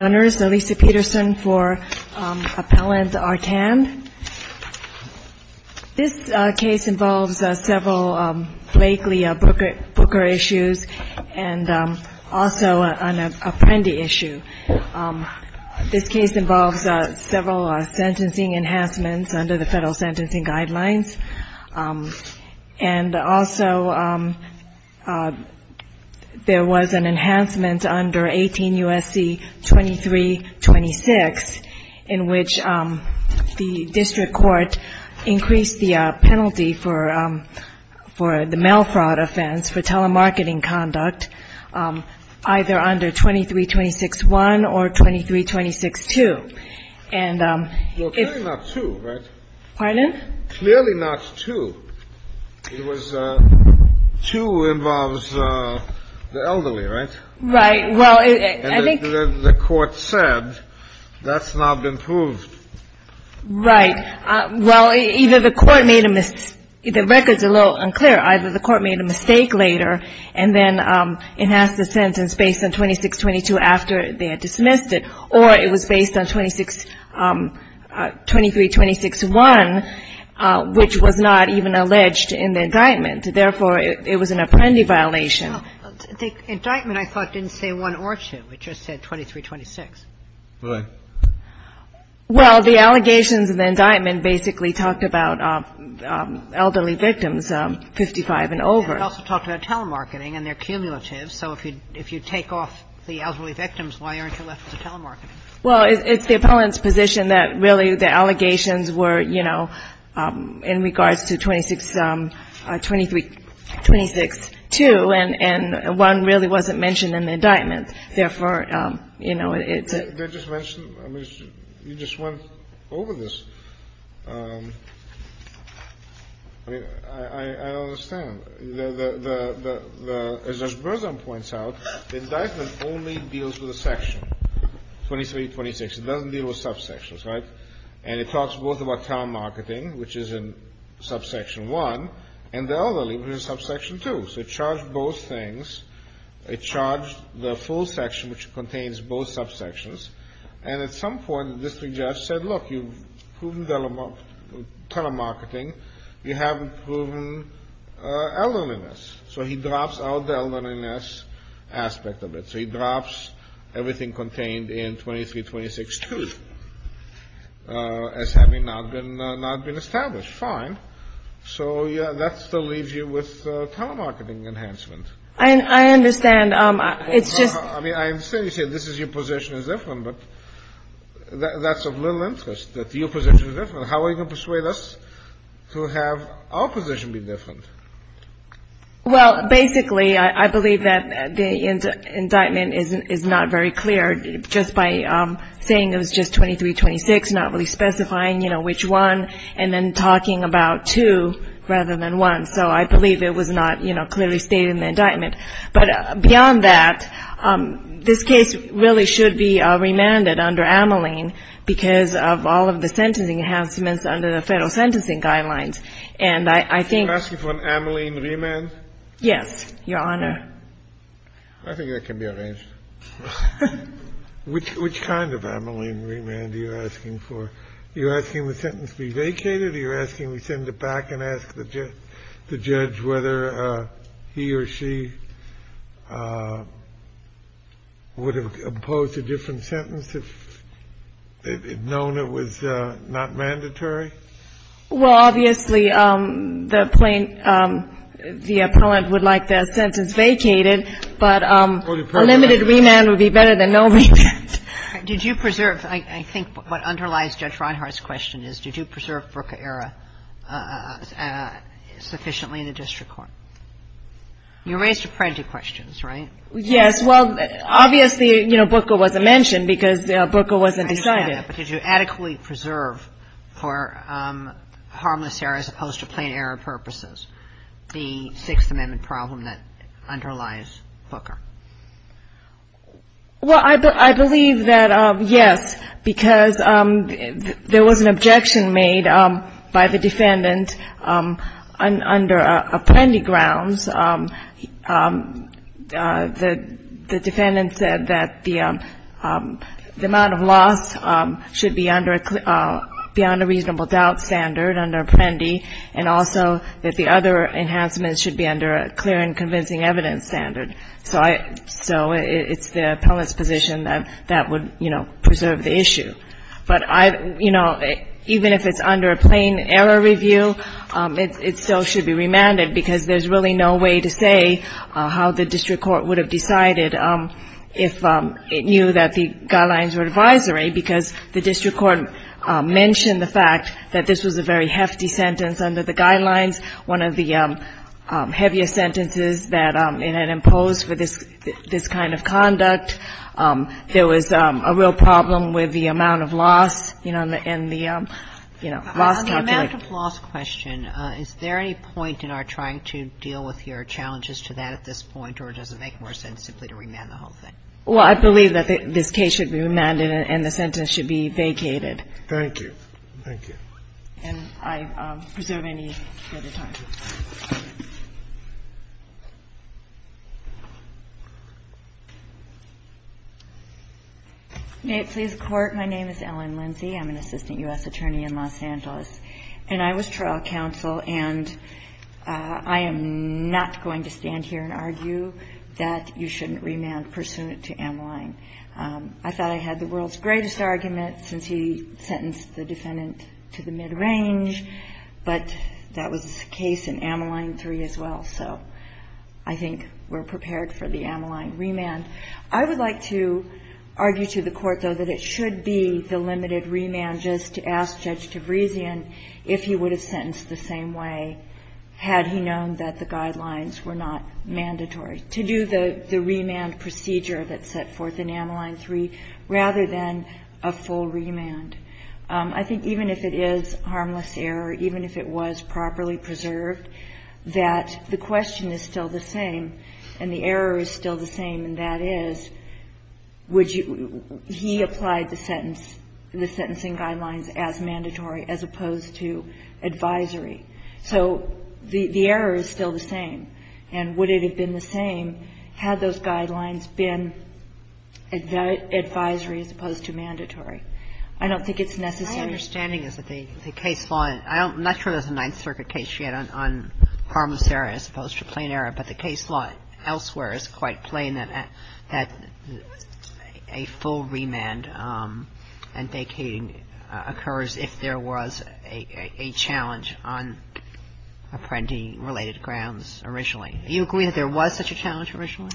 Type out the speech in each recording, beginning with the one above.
This case involves several Bakley-Booker issues and also an Apprendi issue. This case involves several sentencing enhancements under the federal sentencing guidelines. Also there was an enhancement under 18 U.S.C. 2326 in which the district court increased the penalty for the mail fraud offense, for telemarketing conduct, either under 2326-1 or 2326-2. And if you're going to do that, pardon? Clearly not two. It was two involves the same thing. It was two involves the same thing, and the court said that's not improved. Right. Well, either the court made a mis-the records are a little unclear. Either the court made a mistake later and then enhanced the sentence based on 2622 after they had dismissed it, or it was based on 2326-1, which was not even alleged in the indictment. Therefore, it was an Apprendi violation. Well, the indictment, I thought, didn't say one or two. It just said 2326. Well, the allegations in the indictment basically talked about elderly victims, 55 and over. It also talked about telemarketing and their cumulatives. So if you take off the elderly victims, why aren't you left with the telemarketing? Well, it's the Appellant's position that really the allegations were, you know, in regards to 2623, 262, and 1 really wasn't mentioned in the indictment. Therefore, you know, it's a ---- They just mentioned? I mean, you just went over this. I mean, I don't understand. As Judge Berzon points out, the indictment only deals with a section, 2326. It doesn't deal with subsections, right? And it talks both about telemarketing, which is in subsection 1, and the elderly, which is in subsection 2. So it charged both things. It charged the full section, which contains both subsections. And at some point, the district judge said, look, you've proven telemarketing. You haven't proven elderliness. So he drops out the elderliness aspect of it. So he drops everything contained in 2326-2, as having not been established. Fine. So that still leaves you with telemarketing enhancement. I understand. It's just... I mean, I understand you say this is your position is different, but that's of little interest that your position is different. How are you going to persuade us to have our position be different? Well, basically, I believe that the indictment is not very clear. Just by saying it was just 2326, not really specifying, you know, which one, and then talking about 2 rather than 1. So I believe it was not, you know, clearly stated in the indictment. But beyond that, this case really should be remanded under Ameline because of all of the sentencing enhancements under the federal sentencing guidelines. And I think... You're asking for an Ameline remand? Yes, Your Honor. I think that can be arranged. Which kind of Ameline remand are you asking for? You're asking the sentence be vacated? Are you asking we send it back and ask the judge whether he or she would have opposed a different sentence if it had known it was not mandatory? Well, obviously, the plaintiff, the appellant would like their sentence vacated. But a limited remand would be better than no remand. Did you preserve, I think what underlies Judge Reinhart's question is, did you preserve Brucker-era sufficiently in the district court? You raised apprentice questions, right? Yes. Well, obviously, you know, Brucker wasn't mentioned because Brucker wasn't decided. But did you adequately preserve for harmless error as opposed to plain error purposes the Sixth Amendment problem that underlies Brucker? Well, I believe that, yes, because there was an objection made by the defendant under Apprendi grounds. The defendant said that the amount of loss should be under a reasonable doubt standard under Apprendi and also that the other enhancements should be under a clear and convincing evidence standard. So it's the appellant's position that that would, you know, preserve the issue. But, you know, even if it's under a plain error review, it still should be remanded because there's really no way to say how the district court would have decided if it knew that the guidelines were advisory because the district court mentioned the fact that this was a very hefty sentence under the guidelines, one of the heaviest sentences that it had imposed for this kind of conduct. There was a real problem with the amount of loss, you know, and the, you know, loss calculation. And I'm just wondering, you know, is there any point in our trying to deal with your challenges to that at this point, or does it make more sense simply to remand the whole thing? Well, I believe that this case should be remanded and the sentence should be vacated. Thank you. Thank you. And I preserve any further time. May it please the Court. My name is Ellen Lindsey. I'm an assistant U.S. attorney in Los Angeles. And I was trial counsel, and I am not going to stand here and argue that you shouldn't remand pursuant to M-line. I thought I had the world's greatest argument since he sentenced the defendant to the mid-range, but that was the case in M-line 3 as well. So I think we're prepared for the M-line remand. I would like to argue to the Court, though, that it should be the limited remand just to ask Judge Tabrisian if he would have sentenced the same way had he known that the guidelines were not mandatory, to do the remand procedure that's set forth in M-line 3 rather than a full remand. I think even if it is harmless error, even if it was properly preserved, that the question is still the same and the error is still the same, and that is, would you – he applied the sentence – the sentencing guidelines as mandatory as opposed to advisory. So the error is still the same. And would it have been the same had those guidelines been advisory as opposed to mandatory? I don't think it's necessary. Kagan. My understanding is that the case law – I'm not sure there's a Ninth Circuit case yet on harmless error as opposed to plain error, but the case law elsewhere is quite plain that a full remand and vacating occurs if there was a challenge on Apprendi-related grounds originally. Do you agree that there was such a challenge originally?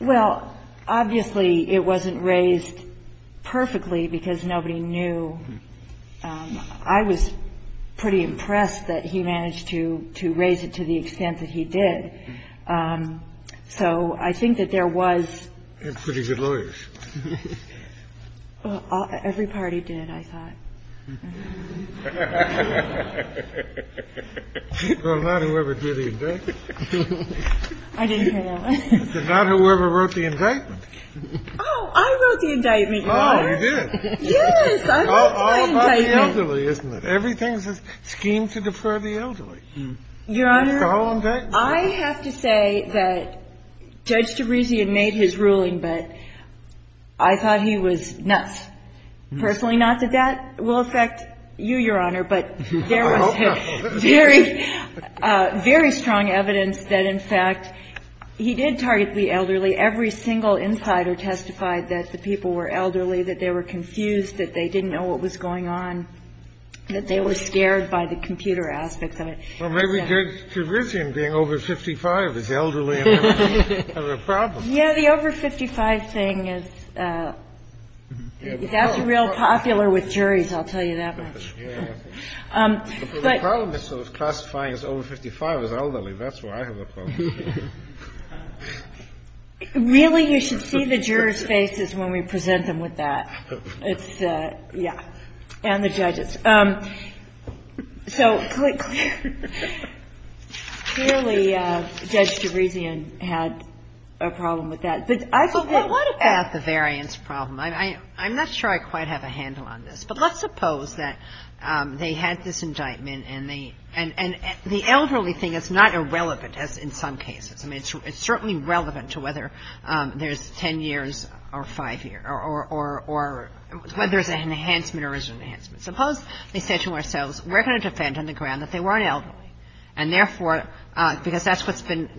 Well, obviously, it wasn't raised perfectly because nobody knew. I was pretty impressed that he managed to raise it to the extent that he did. So I think that there was – And pretty good lawyers. Every party did, I thought. Well, not whoever did the indictment. I didn't hear that one. Not whoever wrote the indictment. Oh, I wrote the indictment, Your Honor. Oh, you did? Yes, I wrote the indictment. All by the elderly, isn't it? Everything's a scheme to defer the elderly. Your Honor, I have to say that Judge Teruzi had made his ruling, but I thought he was nuts. Personally, not that that will affect you, Your Honor, but there was very, very strong evidence that, in fact, he did target the elderly. Every single insider testified that the people were elderly, that they were confused, that they didn't know what was going on, that they were scared by the computer aspects of it. Well, maybe Judge Teruzi, in being over 55, is elderly and has a problem. Yeah, the over 55 thing is – that's real popular with juries, I'll tell you that much. But the problem is sort of classifying as over 55 as elderly. That's where I have a problem. Really, you should see the jurors' faces when we present them with that. It's the – yeah. And the judges. So clearly, Judge Teruzi had a problem with that. But I think that – Well, what about the variance problem? I'm not sure I quite have a handle on this. But let's suppose that they had this indictment, and the elderly thing is not irrelevant, as in some cases. I mean, it's certainly relevant to whether there's 10 years or 5 years or whether there's an enhancement or isn't an enhancement. Suppose they said to themselves, we're going to defend on the ground that they weren't elderly, and therefore – because that's what's been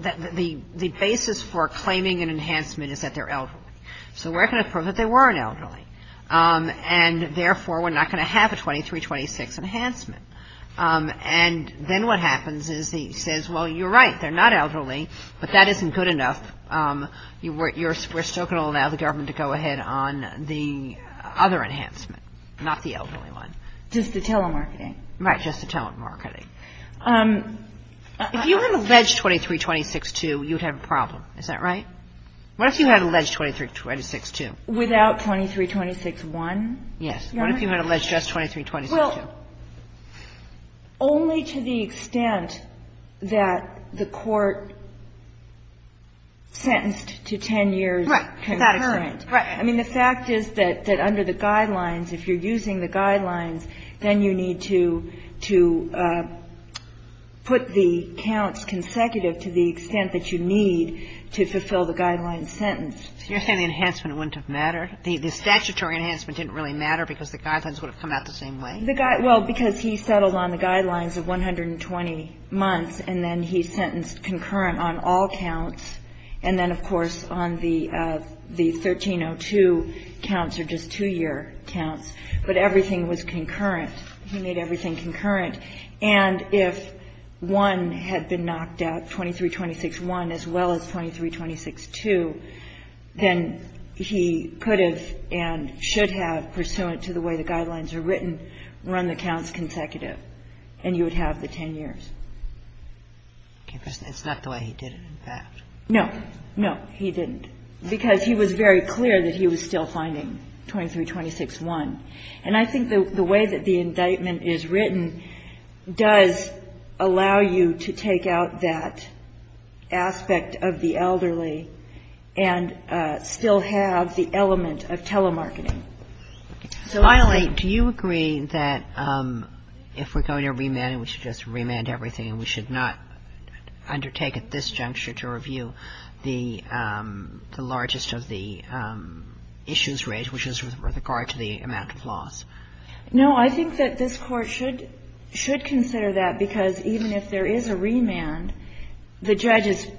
– the basis for claiming an enhancement is that they're elderly. So we're going to prove that they weren't elderly. And therefore, we're not going to have a 2326 enhancement. And then what happens is he says, well, you're right. They're not elderly, but that isn't good enough. We're still going to allow the government to go ahead on the other enhancement, not the elderly one. Just the telemarketing. Right, just the telemarketing. If you had alleged 2326-2, you'd have a problem. Is that right? What if you had alleged 2326-2? Without 2326-1? Yes. What if you had alleged just 2326-2? Well, only to the extent that the court sentenced to 10 years. Right. Without a current. Right. I mean, the fact is that under the Guidelines, if you're using the Guidelines, then you need to put the counts consecutive to the extent that you need to fulfill the Guidelines sentence. So you're saying the enhancement wouldn't have mattered? The statutory enhancement didn't really matter because the Guidelines would have come out the same way? Well, because he settled on the Guidelines of 120 months, and then he sentenced concurrent on all counts, and then, of course, on the 1302 counts or just 2-year counts. But everything was concurrent. He made everything concurrent. And if one had been knocked out, 2326-1, as well as 2326-2, then he could have and should have, pursuant to the way the Guidelines are written, run the counts consecutive, and you would have the 10 years. It's not the way he did it, in fact. No. No, he didn't. Because he was very clear that he was still finding 2326-1. And I think the way that the indictment is written does allow you to take out that aspect of the elderly and still have the element of telemarketing. So, Eileen, do you agree that if we're going to remand it, we should just remand everything and we should not undertake at this juncture to review the largest of the issues raised, which is with regard to the amount of loss? No. I think that this Court should consider that, because even if there is a remand, the judge is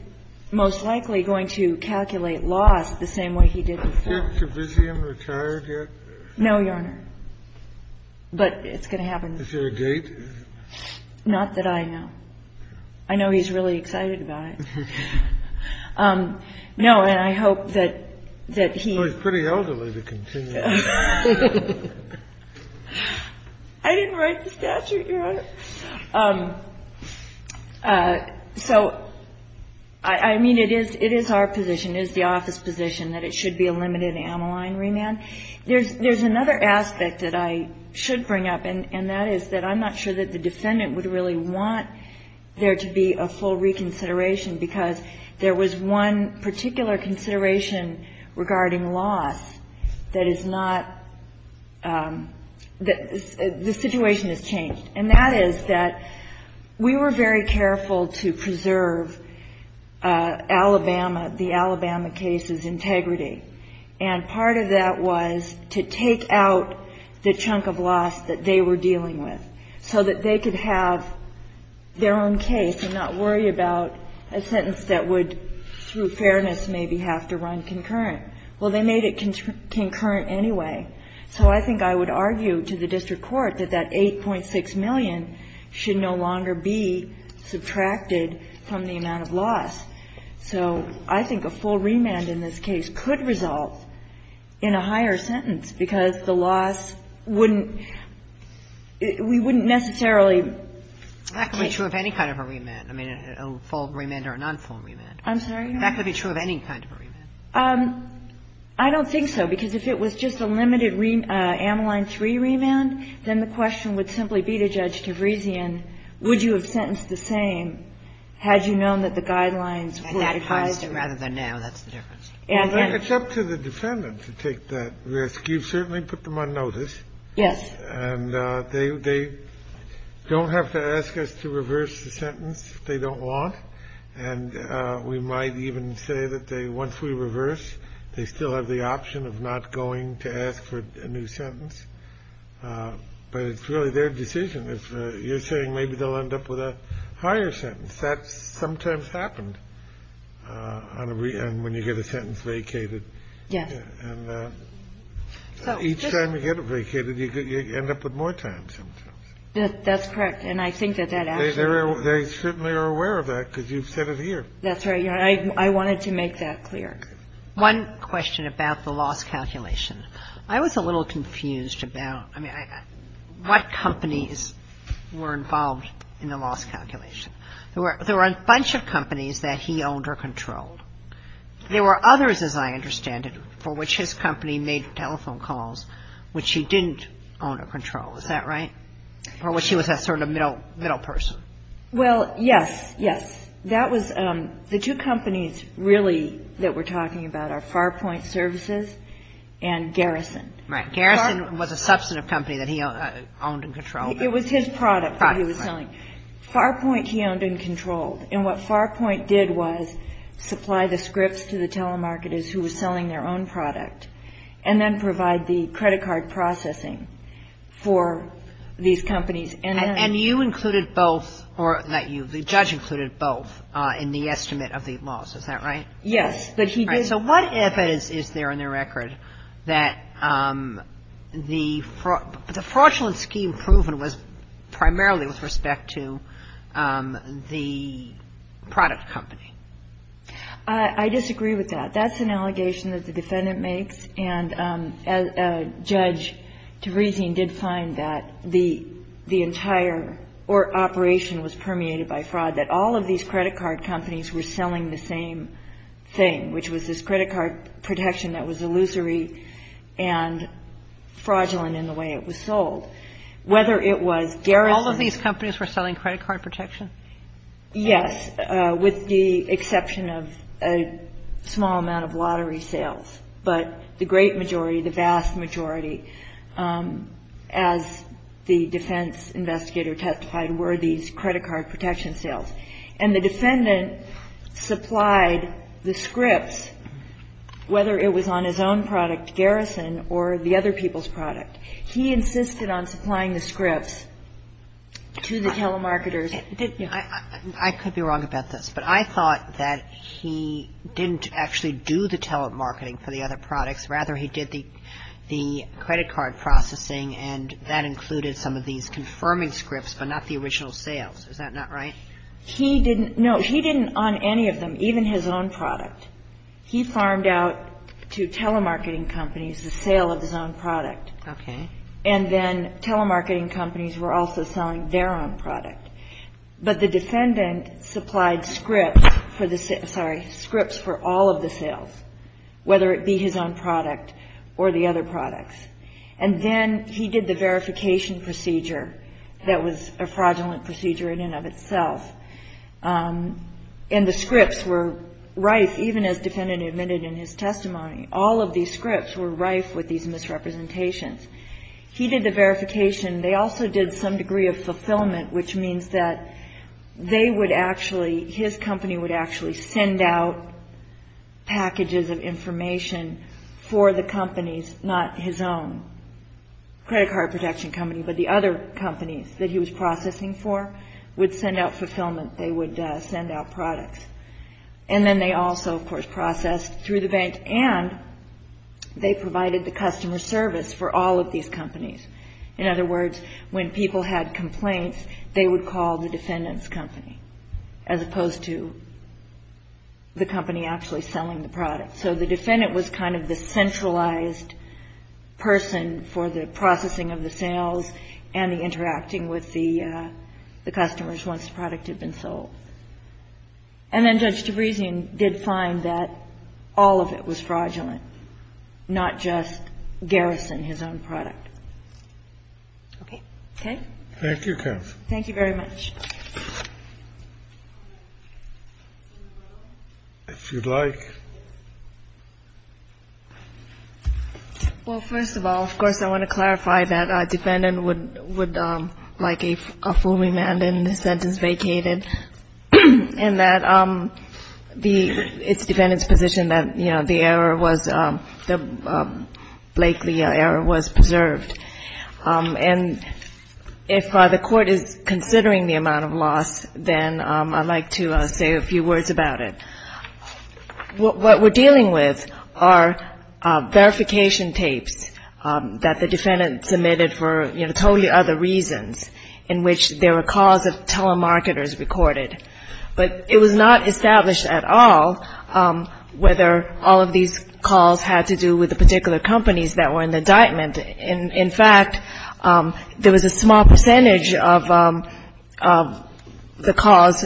most likely going to calculate loss the same way he did before. Is Ted Kavisium retired yet? No, Your Honor. But it's going to happen. Is there a date? Not that I know. I know he's really excited about it. No. And I hope that he — Well, he's pretty elderly to continue. I didn't write the statute, Your Honor. So, I mean, it is our position, it is the office position that it should be a limited amyline remand. There's another aspect that I should bring up, and that is that I'm not sure that really want there to be a full reconsideration, because there was one particular consideration regarding loss that is not — the situation has changed. And that is that we were very careful to preserve Alabama, the Alabama case's integrity. And part of that was to take out the chunk of loss that they were dealing with, so that they could have their own case and not worry about a sentence that would, through fairness, maybe have to run concurrent. Well, they made it concurrent anyway. So I think I would argue to the district court that that $8.6 million should no longer be subtracted from the amount of loss. So I think a full remand in this case could result in a higher sentence, because the loss wouldn't — we wouldn't necessarily — That could be true of any kind of a remand. I mean, a full remand or a non-full remand. I'm sorry, Your Honor? That could be true of any kind of a remand. I don't think so, because if it was just a limited amyline 3 remand, then the question would simply be to Judge Tavrisian, would you have sentenced the same had you known that the guidelines were — Rather than now, that's the difference. Well, it's up to the defendant to take that risk. You've certainly put them on notice. Yes. And they don't have to ask us to reverse the sentence if they don't want. And we might even say that they, once we reverse, they still have the option of not going to ask for a new sentence. But it's really their decision. If you're saying maybe they'll end up with a higher sentence, that sometimes happens on a — when you get a sentence vacated. Yes. And each time you get it vacated, you end up with more time sometimes. That's correct. And I think that that actually — They certainly are aware of that, because you've said it here. That's right, Your Honor. I wanted to make that clear. One question about the loss calculation. I was a little confused about, I mean, what companies were involved in the loss calculation. There were a bunch of companies that he owned or controlled. There were others, as I understand it, for which his company made telephone calls which he didn't own or control. Is that right? Or was he sort of a middle person? Well, yes. Yes. That was — the two companies really that we're talking about are Farpoint Services and Garrison. Right. Garrison was a substantive company that he owned and controlled. It was his product that he was selling. Farpoint, he owned and controlled. And what Farpoint did was supply the scripts to the telemarketers who were selling their own product and then provide the credit card processing for these companies. And you included both — or the judge included both in the estimate of the loss. Is that right? Yes. So what evidence is there in the record that the fraudulent scheme proven was primarily with respect to the product company? I disagree with that. That's an allegation that the defendant makes. And Judge Tavresian did find that the entire operation was permeated by fraud, that all of these credit card companies were selling the same thing, which was this credit card protection that was illusory and fraudulent in the way it was sold. Whether it was Garrison's — All of these companies were selling credit card protection? Yes, with the exception of a small amount of lottery sales. But the great majority, the vast majority, as the defense investigator testified, were these credit card protection sales. And the defendant supplied the scripts, whether it was on his own product, Garrison, or the other people's product. He insisted on supplying the scripts to the telemarketers. I could be wrong about this, but I thought that he didn't actually do the telemarketing for the other products. Rather, he did the credit card processing, and that included some of these confirming scripts but not the original sales. Is that not right? He didn't — no, he didn't on any of them, even his own product. He farmed out to telemarketing companies the sale of his own product. Okay. And then telemarketing companies were also selling their own product. But the defendant supplied scripts for the — sorry, scripts for all of the sales, whether it be his own product or the other products. And then he did the verification procedure that was a fraudulent procedure in and of itself. And the scripts were rife, even as the defendant admitted in his testimony. All of these scripts were rife with these misrepresentations. He did the verification. They also did some degree of fulfillment, which means that they would actually — his company would actually send out packages of information for the companies, not his own credit card protection company, but the other companies that he was processing for would send out fulfillment. They would send out products. And then they also, of course, processed through the bank, and they provided the customer service for all of these companies. In other words, when people had complaints, they would call the defendant's company, as opposed to the company actually selling the product. So the defendant was kind of the centralized person for the processing of the sales and the interacting with the customers once the product had been sold. And then Judge DeBresian did find that all of it was fraudulent, not just Garrison, his own product. Okay? Okay? Thank you, counsel. Thank you very much. If you'd like. Well, first of all, of course, I want to clarify that a defendant would, like a full remand and a sentence vacated, and that it's the defendant's position that the Blakely error was preserved. And if the court is considering the amount of loss, then I'd like to say a few words about it. What we're dealing with are verification tapes that the defendant submitted for totally other reasons, in which there were calls of telemarketers recorded. But it was not established at all whether all of these calls had to do with the particular companies that were in the indictment. In fact, there was a small percentage of the calls,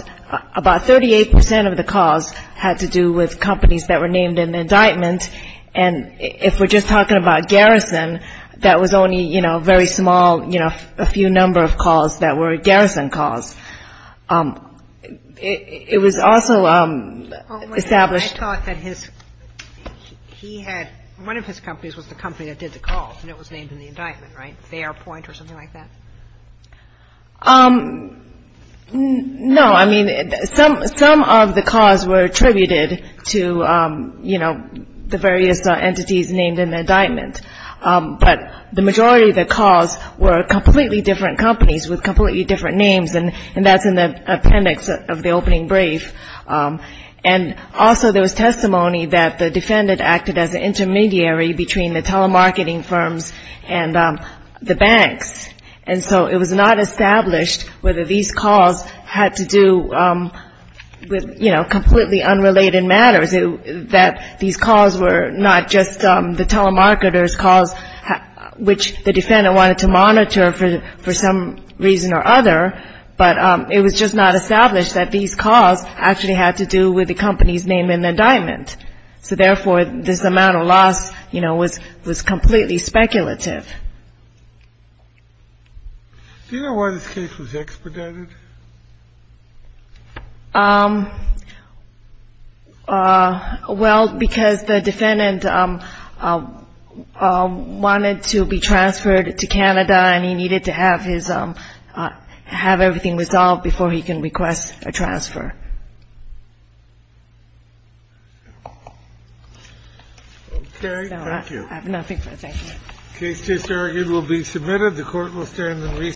about 38% of the calls had to do with companies that were named in the indictment. And if we're just talking about Garrison, that was only, you know, very small, you know, a few number of calls that were Garrison calls. It was also established. I thought that his, he had, one of his companies was the company that did the calls and it was named in the indictment, right? Fairpoint or something like that? No. I mean, some of the calls were attributed to, you know, the various entities named in the indictment. But the majority of the calls were completely different companies with completely different names, and that's in the appendix of the opening brief. And also there was testimony that the defendant acted as an intermediary between the telemarketing firms and the banks. And so it was not established whether these calls had to do with, you know, completely unrelated matters, that these calls were not just the telemarketers' calls, which the defendant wanted to monitor for some reason or other, but it was just not established that these calls actually had to do with the company's name in the indictment. So therefore, this amount of loss, you know, was completely speculative. Do you know why this case was expedited? Well, because the defendant wanted to be transferred to Canada and he needed to have his, have everything resolved before he can request a transfer. Okay. Thank you. I have nothing further. Thank you. The case is here. It will be submitted. The Court will stand in recess.